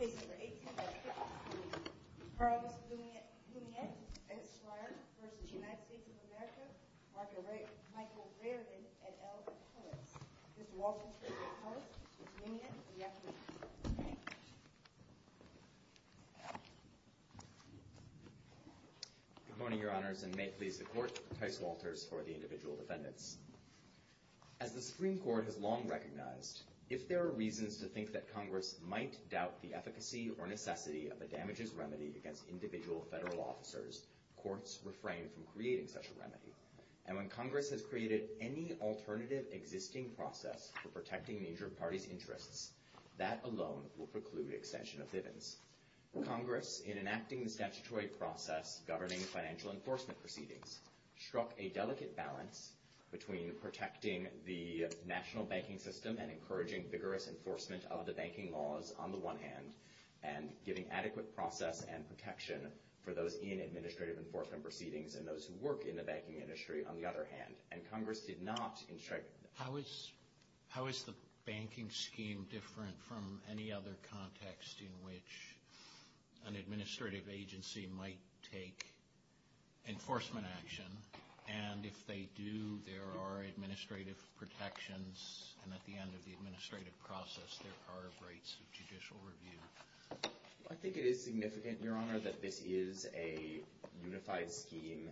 of America, Mark and Michael Reardon, et al., poets. Mr. Walters for the court, Ms. Loumiet, the accolades. Good morning, your honors, and may it please the court, Tice Walters for the individual defendants. As the Supreme Court has long recognized, if there are reasons to think that Congress might doubt the efficacy or necessity of a damages remedy against individual federal officers, courts refrain from creating such a remedy. And when Congress has created any alternative existing process for protecting an injured party's interests, that alone will preclude extension of Bivens. Congress, in enacting the statutory process governing financial enforcement proceedings, struck a delicate balance between protecting the national interest enforcement of the banking laws, on the one hand, and giving adequate process and protection for those in administrative enforcement proceedings and those who work in the banking industry, on the other hand. And Congress did not instruct. How is the banking scheme different from any other context in which an administrative agency might take enforcement action, and if they do, there are administrative protections, and at the end of the administrative process, there are rights of judicial review? I think it is significant, your honor, that this is a unified scheme.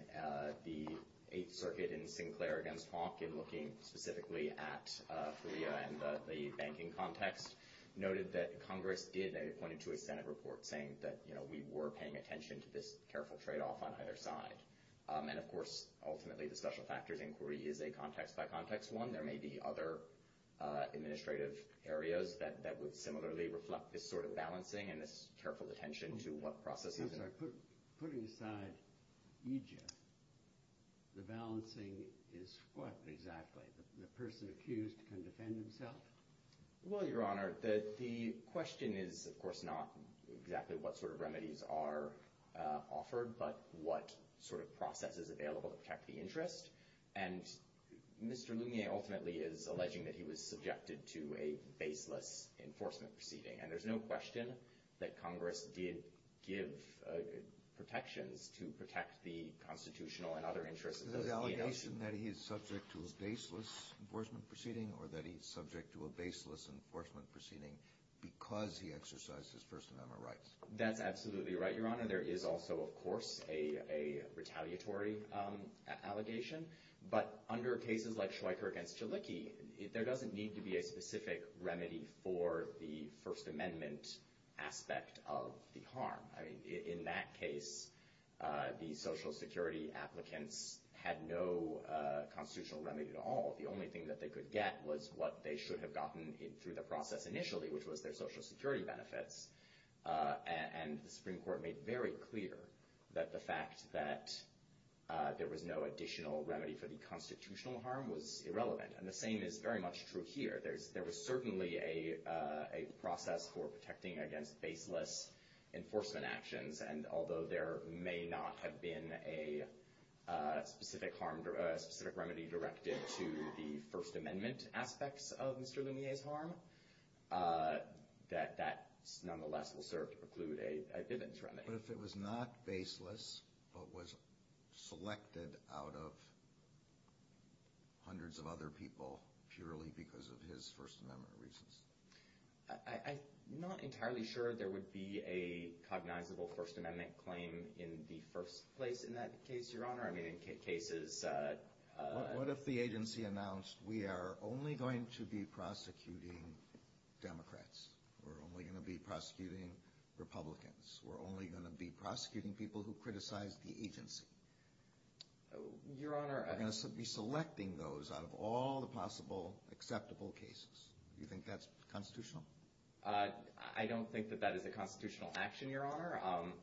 The Eighth Circuit in Sinclair against Hawk, in looking specifically at Korea and the banking context, noted that Congress did point to a Senate report saying that, you know, we were paying attention to this careful trade-off on either side. And of course, ultimately, the special factors inquiry is a context-by-context one. There may be other administrative areas that would similarly reflect this sort of balancing and this careful attention to what processes are put. Putting aside Egypt, the balancing is what exactly? The person accused can defend himself? Well, your honor, the question is, of course, not exactly what sort of remedies are offered, but what sort of process is available to protect the interest. And Mr. Lumier ultimately is alleging that he was subjected to a baseless enforcement proceeding, and there's no question that Congress did give protections to protect the constitutional and other interests of the agency. Is it an allegation that he is subject to a baseless enforcement proceeding, or that he's subject to a baseless enforcement proceeding because he exercised his First Amendment rights? That's absolutely right, your honor. There is also, of course, a retaliatory allegation. But under cases like Schweiker against Jalicki, there doesn't need to be a specific remedy for the First Amendment aspect of the harm. I mean, in that case, the Social Security applicants had no constitutional remedy at all. The only thing that they could get was what they should have gotten through the process initially, which was their Social Security benefits. And the Supreme Court made very clear that the fact that there was no additional remedy for the constitutional harm was irrelevant. And the same is very much true here. There was certainly a process for protecting against baseless enforcement actions. And although there may not have been a specific remedy directed to the First Amendment aspects of Mr. Lumiere's harm, that nonetheless will serve to preclude a Bivens remedy. But if it was not baseless, but was selected out of hundreds of other people purely because of his First Amendment reasons? I'm not entirely sure there would be a cognizable First Amendment claim in the first place in that case, Your Honor. I mean, in cases... What if the agency announced, we are only going to be prosecuting Democrats? We're only going to be prosecuting Republicans? We're only going to be prosecuting people who criticize the agency? Your Honor... We're going to be selecting those out of all the possible acceptable cases. Do you think that's constitutional? I don't think that that is a constitutional action, Your Honor.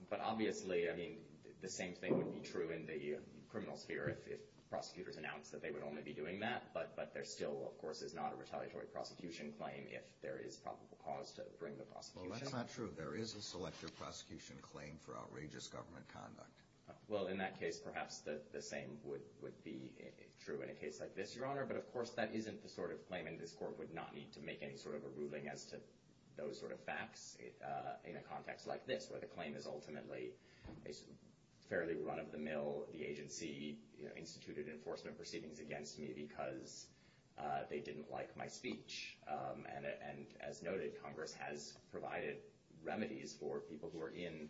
But obviously, I mean, the same thing would be true in the criminal sphere if prosecutors announced that they would only be doing that. But there still, of course, is not a retaliatory prosecution claim if there is probable cause to bring the prosecution. Well, that's not true. There is a selective prosecution claim for outrageous government conduct. Well, in that case, perhaps the same would be true in a case like this, Your Honor. But of course, that isn't the sort of claim in this Court would not need to make any sort of a ruling as to those sort of facts in a fairly run-of-the-mill, the agency-instituted enforcement proceedings against me because they didn't like my speech. And as noted, Congress has provided remedies for people who are in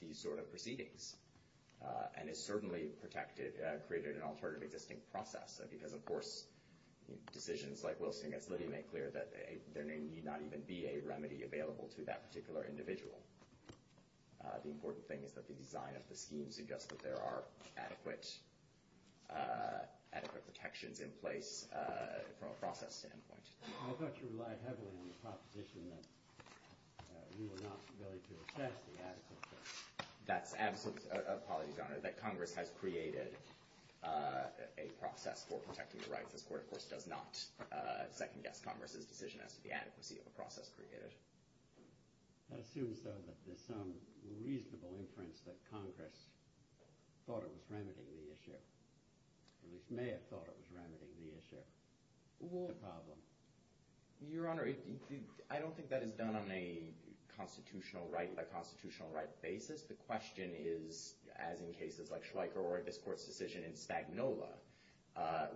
these sort of proceedings and has certainly protected, created an alternative existing process. Because of course, decisions like Wilson v. Liddy make clear that there need not even be a remedy available to that particular individual. The important thing is that the design of the scheme suggests that there are adequate protections in place from a process standpoint. I thought you relied heavily on the proposition that you were not willing to assess the adequacy. That's absolutely true. Apologies, Your Honor. That Congress has created a process for protecting the rights. This Court, of course, does not second-guess Congress's decision as to the reasonable inference that Congress thought it was remedying the issue, or at least may have thought it was remedying the issue, the problem. Your Honor, I don't think that is done on a constitutional right-by-constitutional-right basis. The question is, as in cases like Schweiker or this Court's decision in Spagnola,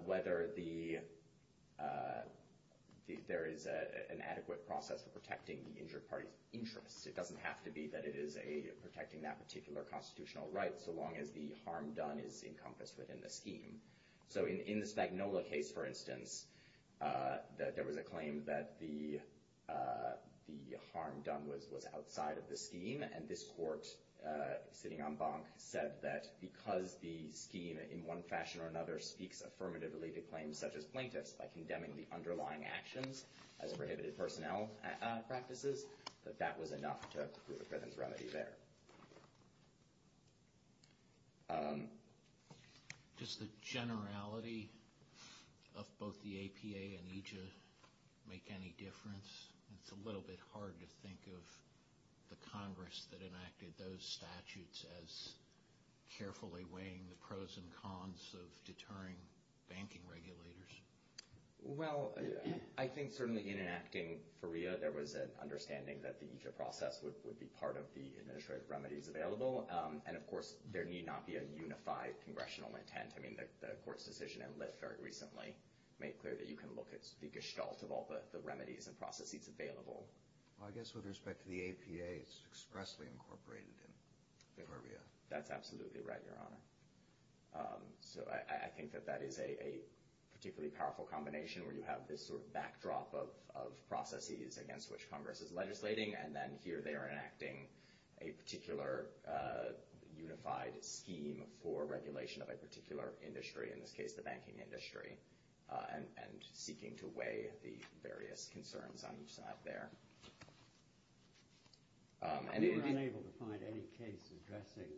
whether there is an adequate process for protecting the injured party's interests. It doesn't have to be that it is protecting that particular constitutional right so long as the harm done is encompassed within the scheme. So in the Spagnola case, for instance, there was a claim that the harm done was outside of the scheme, and this Court, sitting en banc, said that because the scheme, in one way or another, would be to claim such-as-plaintiffs by condemning the underlying actions as prohibited personnel practices, that that was enough to prove a presence remedy there. Does the generality of both the APA and EJIA make any difference? It's a little bit hard to think of the Congress that enacted those statutes as carefully weighing the pros and cons of both the APA and EJIA. Well, I think certainly in enacting FARIA, there was an understanding that the EJIA process would be part of the administrative remedies available, and of course, there need not be a unified congressional intent. I mean, the Court's decision in Lyft very recently made clear that you can look at the gestalt of all the remedies and processes available. Well, I guess with respect to the APA, it's expressly incorporated in FARIA. That's absolutely right, Your Honor. So I think that that is a particularly powerful combination where you have this sort of backdrop of processes against which Congress is legislating, and then here they are enacting a particular unified scheme for regulation of a particular industry, in this case, the banking industry, and seeking to weigh the various concerns on each side there. We were unable to find any case addressing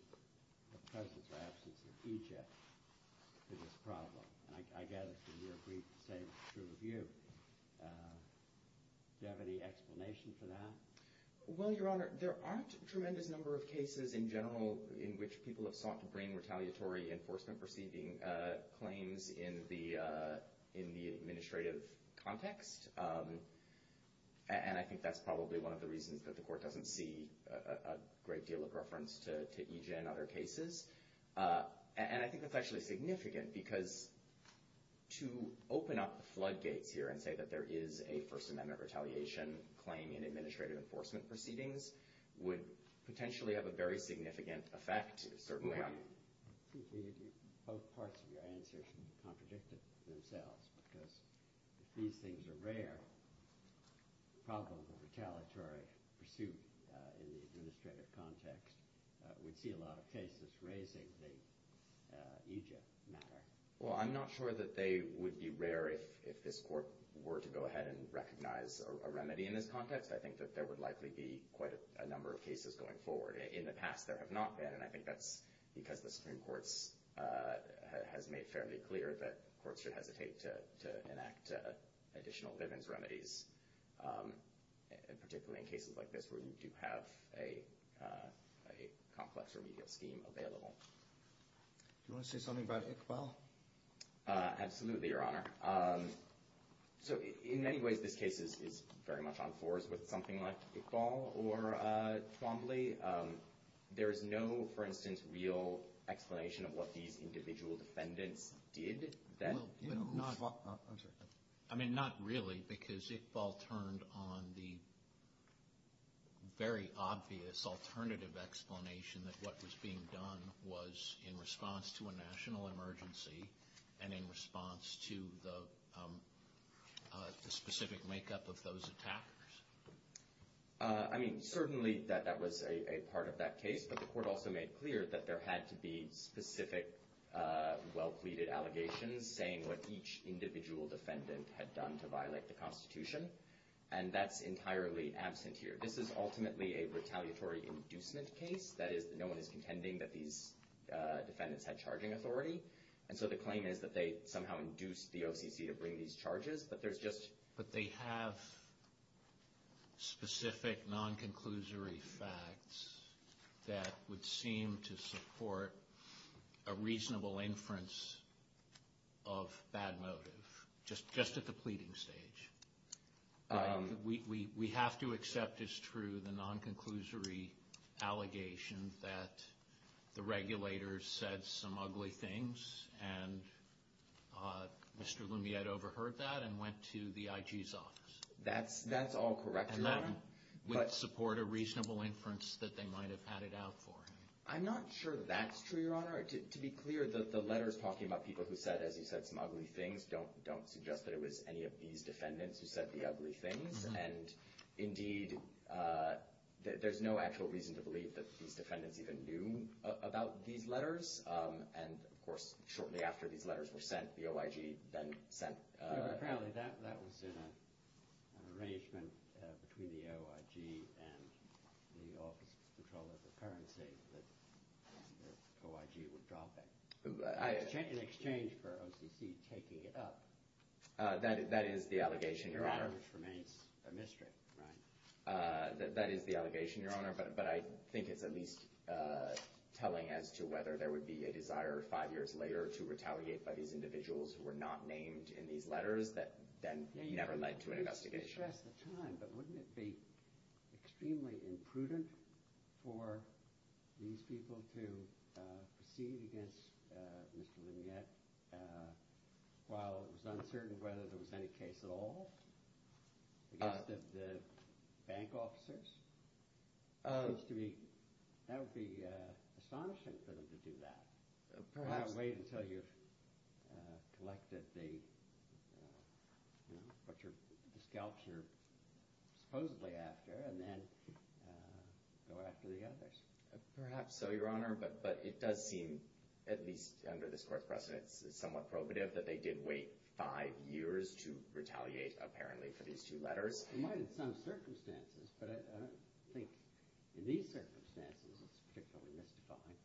the presence or absence of EJIA to this problem, and I gather that you agreed to say it was true of you. Do you have any explanation for that? Well, Your Honor, there aren't a tremendous number of cases in general in which people have sought to bring retaliatory enforcement-perceiving claims in the administrative context, and I think that's probably one of the reasons that the Court doesn't see a great deal of reference to EJIA in other cases. And I think that's actually significant, because to open up the floodgates here and say that there is a First Amendment retaliation claim in administrative enforcement proceedings would potentially have a very significant effect, certainly on... I think both parts of your answers contradict themselves, because if these things are rare, the problem of retaliatory pursuit in the administrative context would see a lot of cases raising the EJIA matter. Well, I'm not sure that they would be rare if this Court were to go ahead and recognize a remedy in this context. I think that there would likely be quite a number of cases going forward. In the past, there have not been, and I think that's because the Supreme Court has made fairly clear that courts should hesitate to enact additional live-ins remedies, particularly in cases like this where you do have a complex remedial scheme available. Do you want to say something about Iqbal? Absolutely, Your Honor. So in many ways, this case is very much on fours with something like Iqbal or Twombly. There is no, for instance, real explanation of what these individual defendants did. I mean, not really, because Iqbal turned on the very obvious alternative explanation that what was being done was in response to a national emergency and in response to the I mean, certainly that was a part of that case, but the Court also made clear that there had to be specific well-pleaded allegations saying what each individual defendant had done to violate the Constitution, and that's entirely absent here. This is ultimately a retaliatory inducement case. That is, no one is contending that these defendants had charging authority, and so the claim is that they somehow induced the OCC to bring these charges, but there's just But they have specific non-conclusory facts that would seem to support a reasonable inference of bad motive, just at the pleading stage. We have to accept as true the non-conclusory allegation that the regulators said some ugly things, and Mr. Lumiere overheard that and went to the IG's office. That's all correct, Your Honor. And that would support a reasonable inference that they might have had it out for him. I'm not sure that's true, Your Honor. To be clear, the letters talking about people who said, as you said, some ugly things don't suggest that it was any of these defendants who said the ugly things, and indeed, there's no actual reason to believe that these defendants even knew about these letters, and of course, shortly after these letters were sent, the OIG then sent Apparently, that was an arrangement between the OIG and the Office of Control of the Currency that the OIG were dropping in exchange for OCC taking it up. That is the allegation, Your Honor. Which remains a mystery, right? That is the allegation, Your Honor, but I think it's at least telling as to whether there would be a desire five years later to retaliate by these individuals who were not named in these letters that then never led to an investigation. I didn't stress the time, but wouldn't it be extremely imprudent for these people to proceed against Mr. Lamiat while it was uncertain whether there was any case at all against the bank officers? That would be astonishing for them to do that. Well, wait until you've collected what the scalps are supposedly after, and then go after the others. Perhaps so, Your Honor, but it does seem, at least under this Court's precedence, somewhat probative that they did wait five years to retaliate, apparently, for these two letters. It might in some circumstances, but I don't think in these circumstances it's particularly mystifying.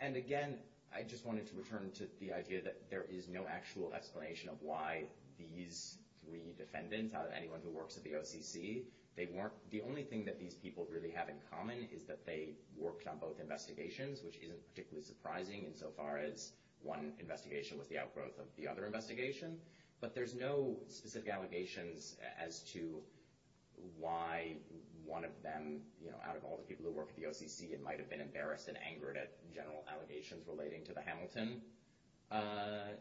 And again, I just wanted to return to the idea that there is no actual explanation of why these three defendants, out of anyone who works at the OCC, they weren't. The only thing that these people really have in common is that they worked on both investigations, which isn't particularly surprising insofar as one investigation was the outgrowth of the other investigation. But there's no specific allegations as to why one of them, out of all the people who might have been embarrassed and angered at general allegations relating to the Hamilton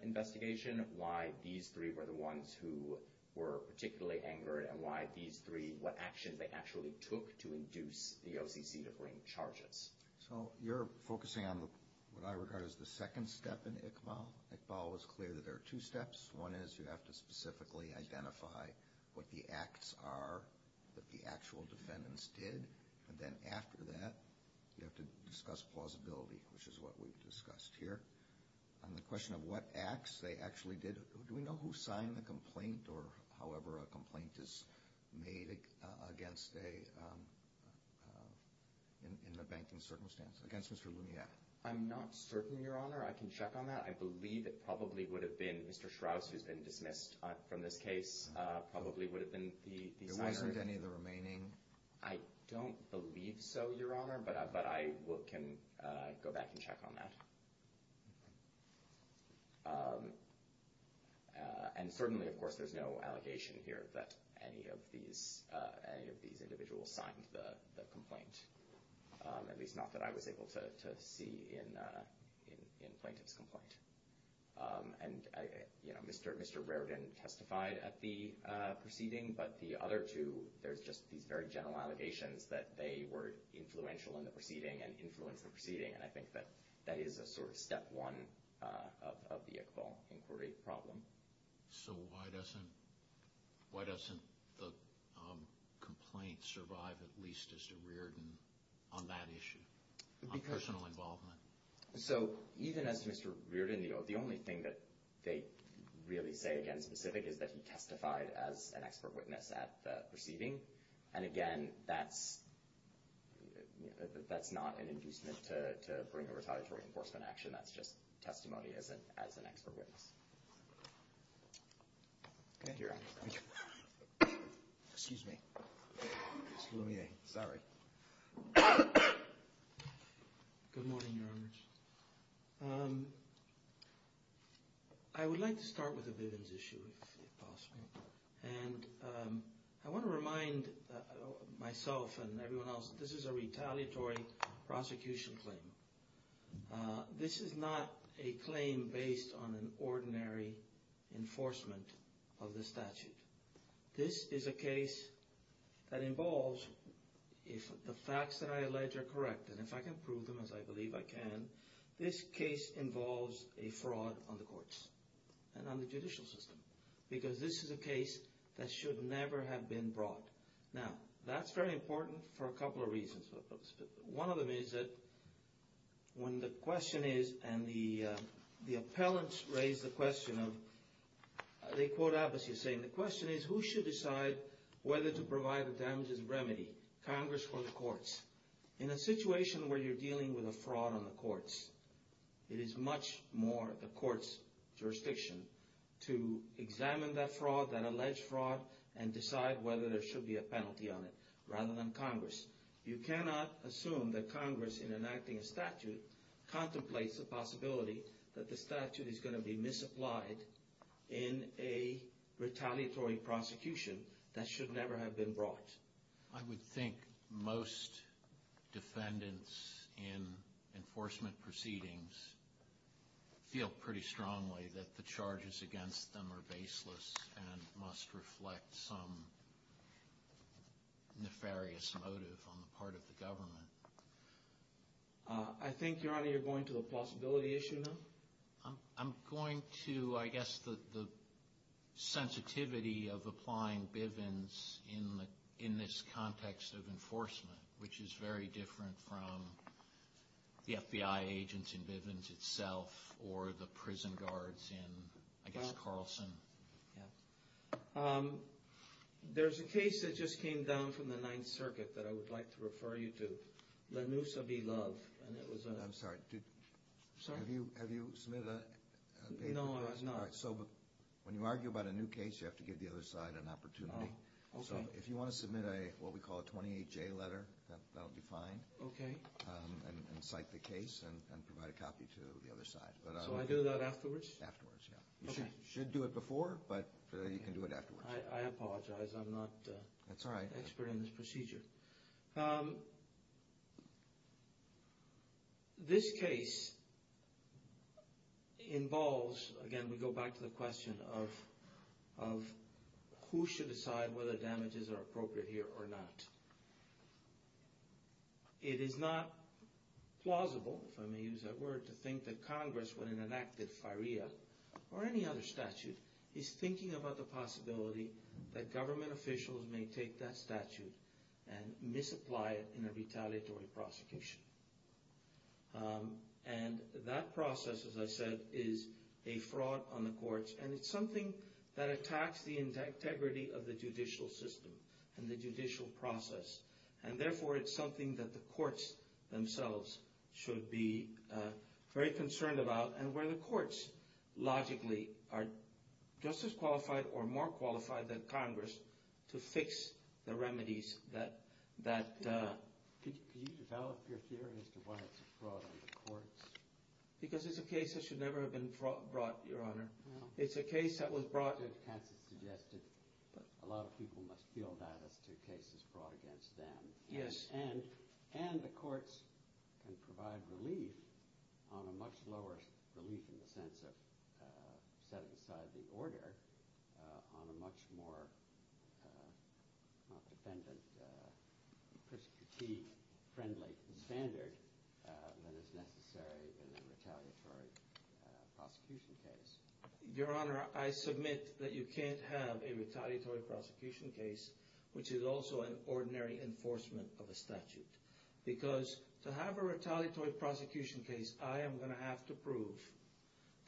investigation, why these three were the ones who were particularly angered, and why these three, what actions they actually took to induce the OCC to bring charges. So you're focusing on what I regard as the second step in Iqbal. Iqbal was clear that there are two steps. One is you have to specifically identify what the acts are that the actual defendants did, and then after that you have to discuss plausibility, which is what we've discussed here. On the question of what acts they actually did, do we know who signed the complaint or however a complaint is made against a, in the banking circumstance, against Mr. Lumiere? I'm not certain, Your Honor. I can check on that. I believe it probably would have been Mr. Strauss, who's been dismissed from this case, probably would have been the signer. There wasn't any of the remaining? I don't believe so, Your Honor, but I can go back and check on that. And certainly, of course, there's no allegation here that any of these individuals signed the complaint, at least not that I was able to see in plaintiff's complaint. And, you know, Mr. Riordan testified at the proceeding, but the other two, there's just these very general allegations that they were influential in the proceeding and influenced the proceeding, and I think that that is a sort of step one of the Iqbal inquiry problem. So why doesn't the complaint survive at least as to Riordan on that issue, on personal involvement? So even as Mr. Riordan, the only thing that they really say, again, specific, is that he testified as an expert witness at the proceeding. And, again, that's not an inducement to bring a retaliatory enforcement action. That's just testimony as an expert witness. Thank you, Your Honor. Excuse me. Mr. Lumiere. Sorry. Good morning, Your Honors. I would like to start with the Vivens issue, if possible. And I want to remind myself and everyone else, this is a retaliatory prosecution claim. This is not a claim based on an ordinary enforcement of the statute. This is a case that involves, if the facts that I allege are correct, and if I can prove them, as I believe I can, this case involves a fraud on the courts and on the judicial system, because this is a case that should never have been brought. Now, that's very important for a couple of reasons. One of them is that when the question is, and the appellants raise the question of, they quote Abbas, he's saying the question is, who should decide whether to provide the damages of remedy, Congress or the courts? In a situation where you're dealing with a fraud on the courts, it is much more the court's jurisdiction to examine that fraud, that alleged fraud, and decide whether there should be a penalty on it, rather than Congress. You cannot assume that Congress, in enacting a statute, contemplates the possibility that the statute is going to be misapplied in a retaliatory prosecution that should never have been brought. I would think most defendants in enforcement proceedings feel pretty strongly that the charges against them are baseless and must reflect some nefarious motive on the part of the government. I think, Your Honor, you're going to the possibility issue now? I'm going to, I guess, the sensitivity of applying Bivens in this context of enforcement, which is very different from the FBI agents in Bivens itself, or the prison guards in, I guess, Carlson. There's a case that just came down from the Ninth Circuit that I would like to refer you to, La Nussa v. Love. I'm sorry, have you submitted a paper? No, I have not. When you argue about a new case, you have to give the other side an opportunity. Oh, okay. So if you want to submit a, what we call a 28-J letter, that'll be fine. Okay. And cite the case and provide a copy to the other side. So I do that afterwards? Afterwards, yeah. Okay. You should do it before, but you can do it afterwards. I apologize, I'm not an expert in this procedure. That's all right. This case involves, again, we go back to the question of who should decide whether damages are appropriate here or not. It is not plausible, if I may use that word, to think that Congress, when it enacted FIREA or any other statute, is thinking about the possibility that government officials may take that statute and misapply it in a retaliatory prosecution. And that process, as I said, is a fraud on the courts, and it's something that attacks the integrity of the judicial system and the judicial process, and therefore it's something that the courts themselves should be very concerned about and where the courts logically are just as qualified or more qualified than Congress to fix the remedies that… Could you develop your theory as to why it's a fraud on the courts? Because it's a case that should never have been brought, Your Honor. It's a case that was brought… As Kansas suggested, a lot of people must feel bad as to cases brought against them. Yes. And the courts can provide relief on a much lower relief, in the sense of setting aside the order, on a much more defendant-prescutee-friendly standard than is necessary in a retaliatory prosecution case. Your Honor, I submit that you can't have a retaliatory prosecution case, which is also an ordinary enforcement of a statute. Because to have a retaliatory prosecution case, I am going to have to prove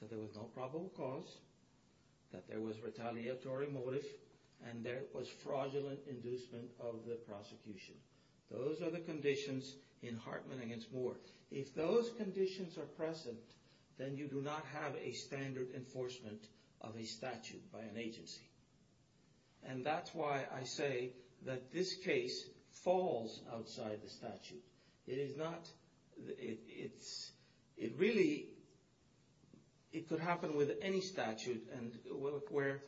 that there was no probable cause, that there was retaliatory motive, and there was fraudulent inducement of the prosecution. Those are the conditions in Hartman v. Moore. If those conditions are present, then you do not have a standard enforcement of a statute by an agency. And that's why I say that this case falls outside the statute. It could happen with any statute, where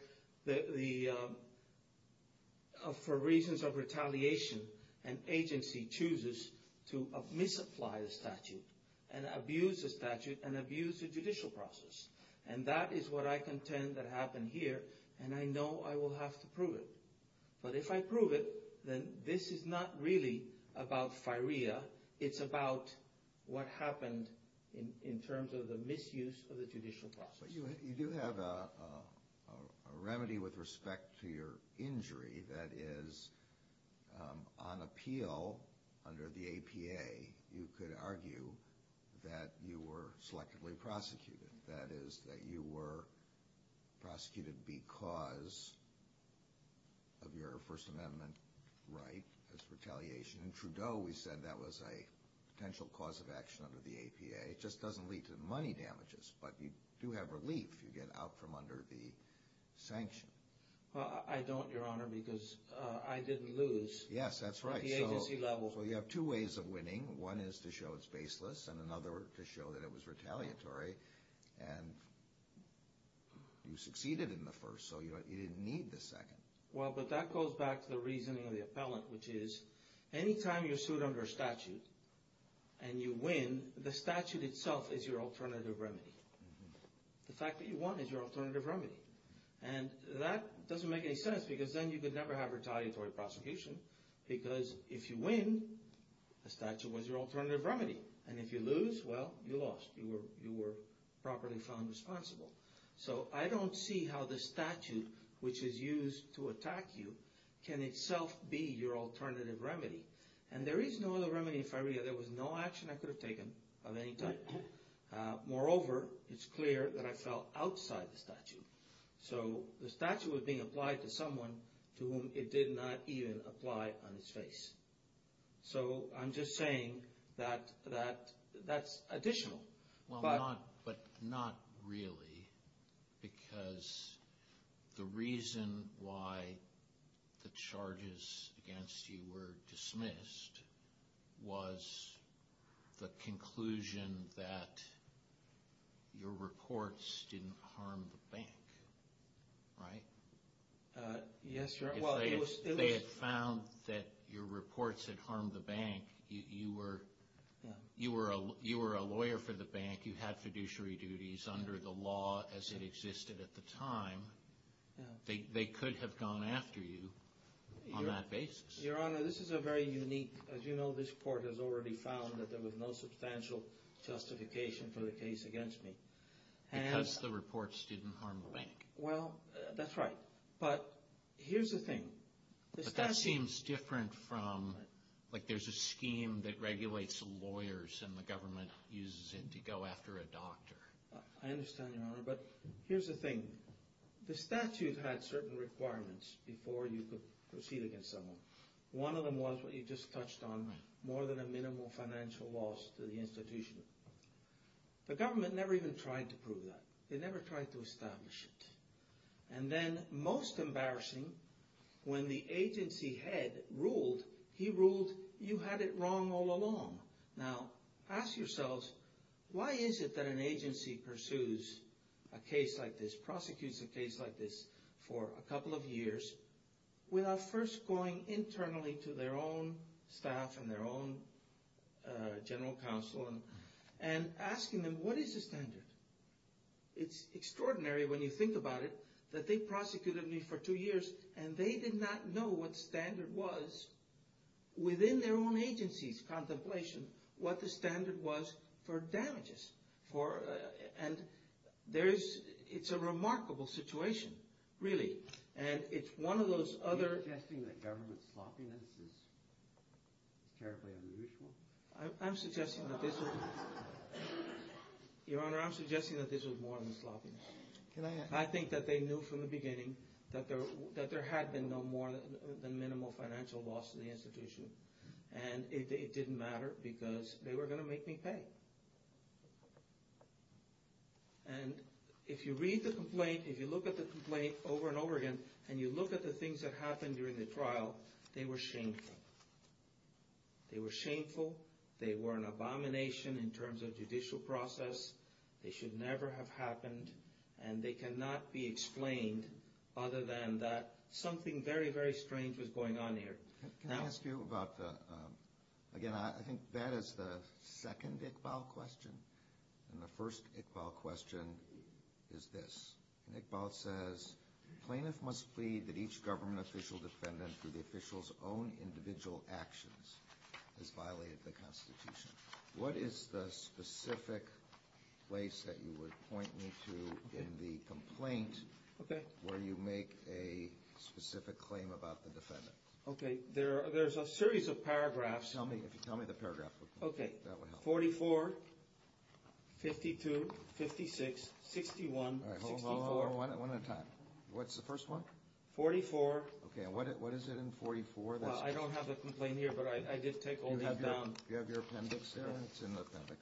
for reasons of retaliation, an agency chooses to misapply the statute, and abuse the statute, and abuse the judicial process. And that is what I contend that happened here, and I know I will have to prove it. But if I prove it, then this is not really about firea. It's about what happened in terms of the misuse of the judicial process. But you do have a remedy with respect to your injury. That is, on appeal under the APA, you could argue that you were selectively prosecuted. That is, that you were prosecuted because of your First Amendment right as retaliation. In Trudeau, we said that was a potential cause of action under the APA. It just doesn't lead to money damages, but you do have relief. You get out from under the sanction. Well, I don't, Your Honor, because I didn't lose. Yes, that's right. From the agency level. Well, you have two ways of winning. One is to show it's baseless, and another to show that it was retaliatory. And you succeeded in the first, so you didn't need the second. Well, but that goes back to the reasoning of the appellant, which is, any time you're sued under a statute and you win, the statute itself is your alternative remedy. The fact that you won is your alternative remedy. And that doesn't make any sense because then you could never have retaliatory prosecution because if you win, the statute was your alternative remedy. And if you lose, well, you lost. You were properly found responsible. So I don't see how the statute, which is used to attack you, can itself be your alternative remedy. And there is no other remedy. There was no action I could have taken of any type. Moreover, it's clear that I fell outside the statute. So the statute was being applied to someone to whom it did not even apply on his face. So I'm just saying that that's additional. Well, but not really because the reason why the charges against you were dismissed was the conclusion that your reports didn't harm the bank, right? Yes, Your Honor. If they had found that your reports had harmed the bank, you were a lawyer for the bank, you had fiduciary duties under the law as it existed at the time, they could have gone after you on that basis. Your Honor, this is a very unique, as you know, this Court has already found that there was no substantial justification for the case against me. Because the reports didn't harm the bank. Well, that's right. But here's the thing. But that seems different from, like there's a scheme that regulates lawyers and the government uses it to go after a doctor. I understand, Your Honor, but here's the thing. The statute had certain requirements before you could proceed against someone. One of them was what you just touched on, more than a minimal financial loss to the institution. The government never even tried to prove that. They never tried to establish it. And then, most embarrassing, when the agency head ruled, he ruled you had it wrong all along. Now, ask yourselves, why is it that an agency pursues a case like this, prosecutes a case like this for a couple of years, without first going internally to their own staff and their own general counsel and asking them, what is the standard? It's extraordinary, when you think about it, that they prosecuted me for two years and they did not know what standard was within their own agency's contemplation, what the standard was for damages. And it's a remarkable situation, really. And it's one of those other... Are you suggesting that government sloppiness is terribly unusual? I'm suggesting that this was... Your Honor, I'm suggesting that this was more than sloppiness. I think that they knew from the beginning that there had been no more than minimal financial loss to the institution. And it didn't matter because they were going to make me pay. And if you read the complaint, if you look at the complaint over and over again, and you look at the things that happened during the trial, they were shameful. They were shameful. They were an abomination in terms of judicial process. They should never have happened. And they cannot be explained other than that something very, very strange was going on here. Can I ask you about the... Again, I think that is the second Iqbal question. And the first Iqbal question is this. Iqbal says, Plaintiff must plead that each government official defendant through the official's own individual actions has violated the Constitution. What is the specific place that you would point me to in the complaint where you make a specific claim about the defendant? Okay, there's a series of paragraphs. If you tell me the paragraph, that would help. 44, 52, 56, 61, 64. Hold on, one at a time. What's the first one? 44. Okay, and what is it in 44? I don't have the complaint here, but I did take all these down. You have your appendix there? It's in the appendix.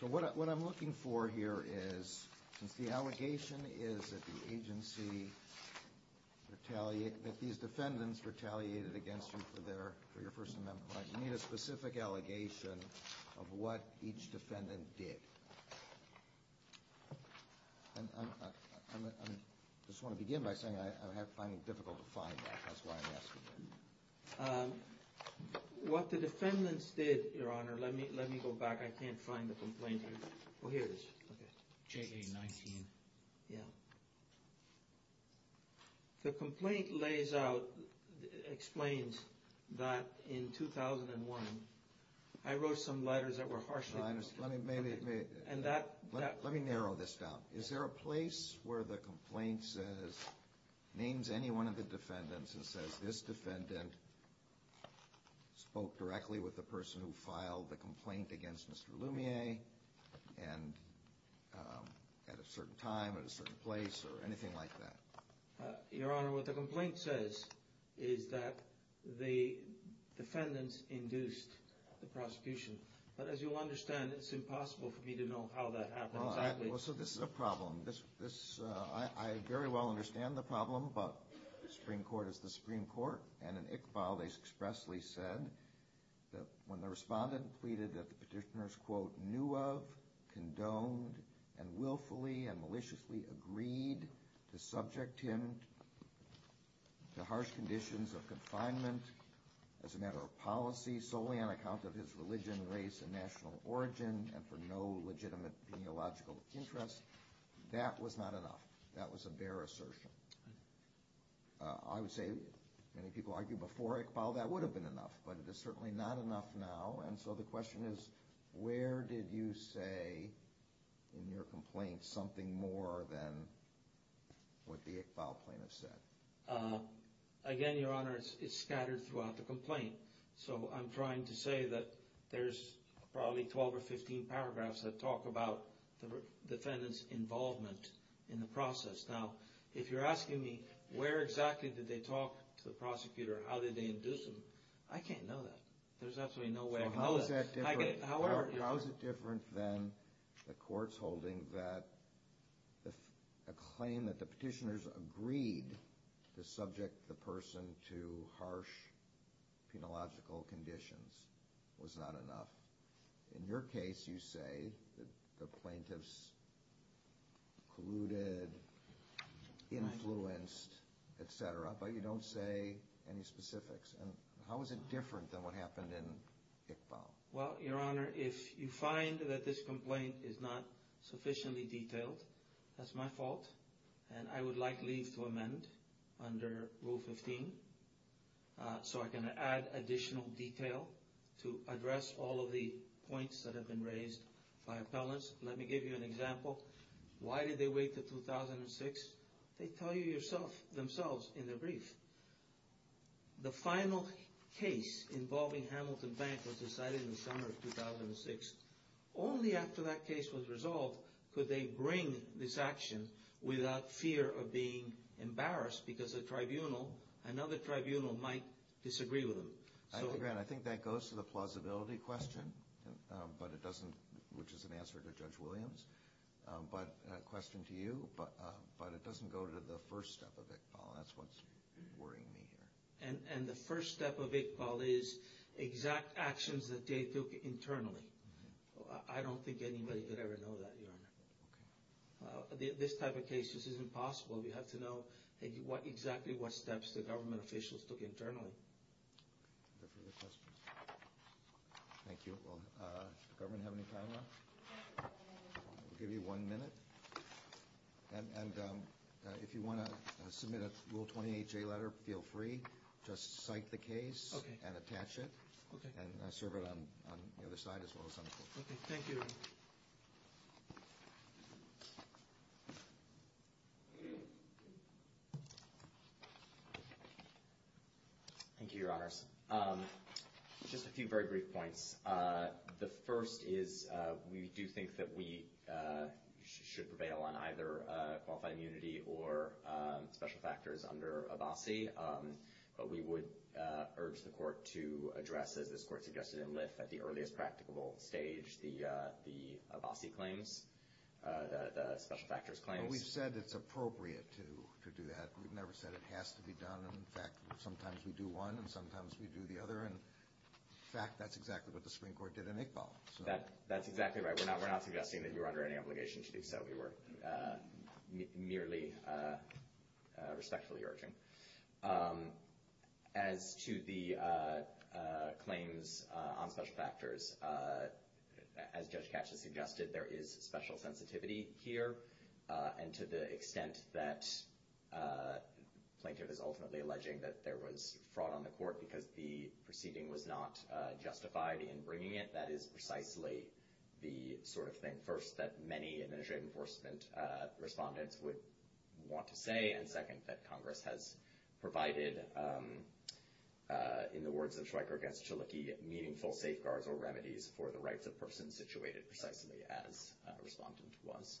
So what I'm looking for here is, since the allegation is that the agency retaliated, that these defendants retaliated against you for your First Amendment right, you need a specific allegation of what each defendant did. I just want to begin by saying I'm finding it difficult to find that. That's why I'm asking you. What the defendants did, Your Honor, let me go back. I can't find the complaint here. Oh, here it is. J.A. 19. Yeah. The complaint lays out, explains that in 2001, I wrote some letters that were harshly- And that- Let me narrow this down. Is there a place where the complaint says, names anyone of the defendants and says, this defendant spoke directly with the person who filed the complaint against Mr. Lumiere at a certain time, at a certain place, or anything like that? Your Honor, what the complaint says is that the defendants induced the prosecution. But as you'll understand, it's impossible for me to know how that happened. Well, so this is a problem. I very well understand the problem. But the Supreme Court is the Supreme Court. And in Iqbal, they expressly said that when the respondent pleaded that the petitioners, quote, condoned and willfully and maliciously agreed to subject him to harsh conditions of confinement as a matter of policy, solely on account of his religion, race, and national origin, and for no legitimate peneological interest, that was not enough. That was a bare assertion. I would say many people argued before Iqbal that would have been enough, but it is certainly not enough now. And so the question is, where did you say in your complaint something more than what the Iqbal plaintiffs said? Again, Your Honor, it's scattered throughout the complaint. So I'm trying to say that there's probably 12 or 15 paragraphs that talk about the defendants' involvement in the process. Now, if you're asking me where exactly did they talk to the prosecutor, how did they induce him, I can't know that. There's absolutely no way I can know that. So how is that different? How is it different than the court's holding that a claim that the petitioners agreed to subject the person to harsh peneological conditions was not enough? In your case, you say that the plaintiffs colluded, influenced, et cetera, but you don't say any specifics. How is it different than what happened in Iqbal? Well, Your Honor, if you find that this complaint is not sufficiently detailed, that's my fault, and I would like leave to amend under Rule 15 so I can add additional detail to address all of the points that have been raised by appellants. Let me give you an example. Why did they wait until 2006? They tell you themselves in their brief. The final case involving Hamilton Bank was decided in the summer of 2006. Only after that case was resolved could they bring this action without fear of being embarrassed because another tribunal might disagree with them. I think that goes to the plausibility question, which is an answer to Judge Williams. But a question to you, but it doesn't go to the first step of Iqbal. That's what's worrying me here. And the first step of Iqbal is exact actions that they took internally. I don't think anybody could ever know that, Your Honor. Okay. This type of case, this is impossible. We have to know exactly what steps the government officials took internally. Are there further questions? Thank you. Does the government have any time left? We'll give you one minute. And if you want to submit a Rule 28J letter, feel free. Just cite the case and attach it and serve it on the other side as well as on the court. Okay. Thank you, Your Honor. Thank you, Your Honors. Just a few very brief points. The first is we do think that we should prevail on either qualified immunity or special factors under ABASI. But we would urge the court to address, as this court suggested in LIF at the earliest practicable stage, the ABASI claims, the special factors claims. But we've said it's appropriate to do that. We've never said it has to be done. And, in fact, sometimes we do one and sometimes we do the other. And, in fact, that's exactly what the Supreme Court did in Iqbal. That's exactly right. We're not suggesting that you're under any obligation to do so. We were merely respectfully urging. As to the claims on special factors, as Judge Katch has suggested, there is special sensitivity here. And to the extent that the plaintiff is ultimately alleging that there was fraud on the court because the proceeding was not justified in bringing it, that is precisely the sort of thing, first, that many administrative enforcement respondents would want to say, and, second, that Congress has provided, in the words of Schweiker against Chaliki, meaningful safeguards or remedies for the rights of persons situated precisely as a respondent was.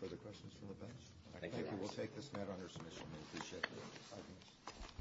Further questions from the bench? I think we will take this matter under submission. We appreciate it. Thank you.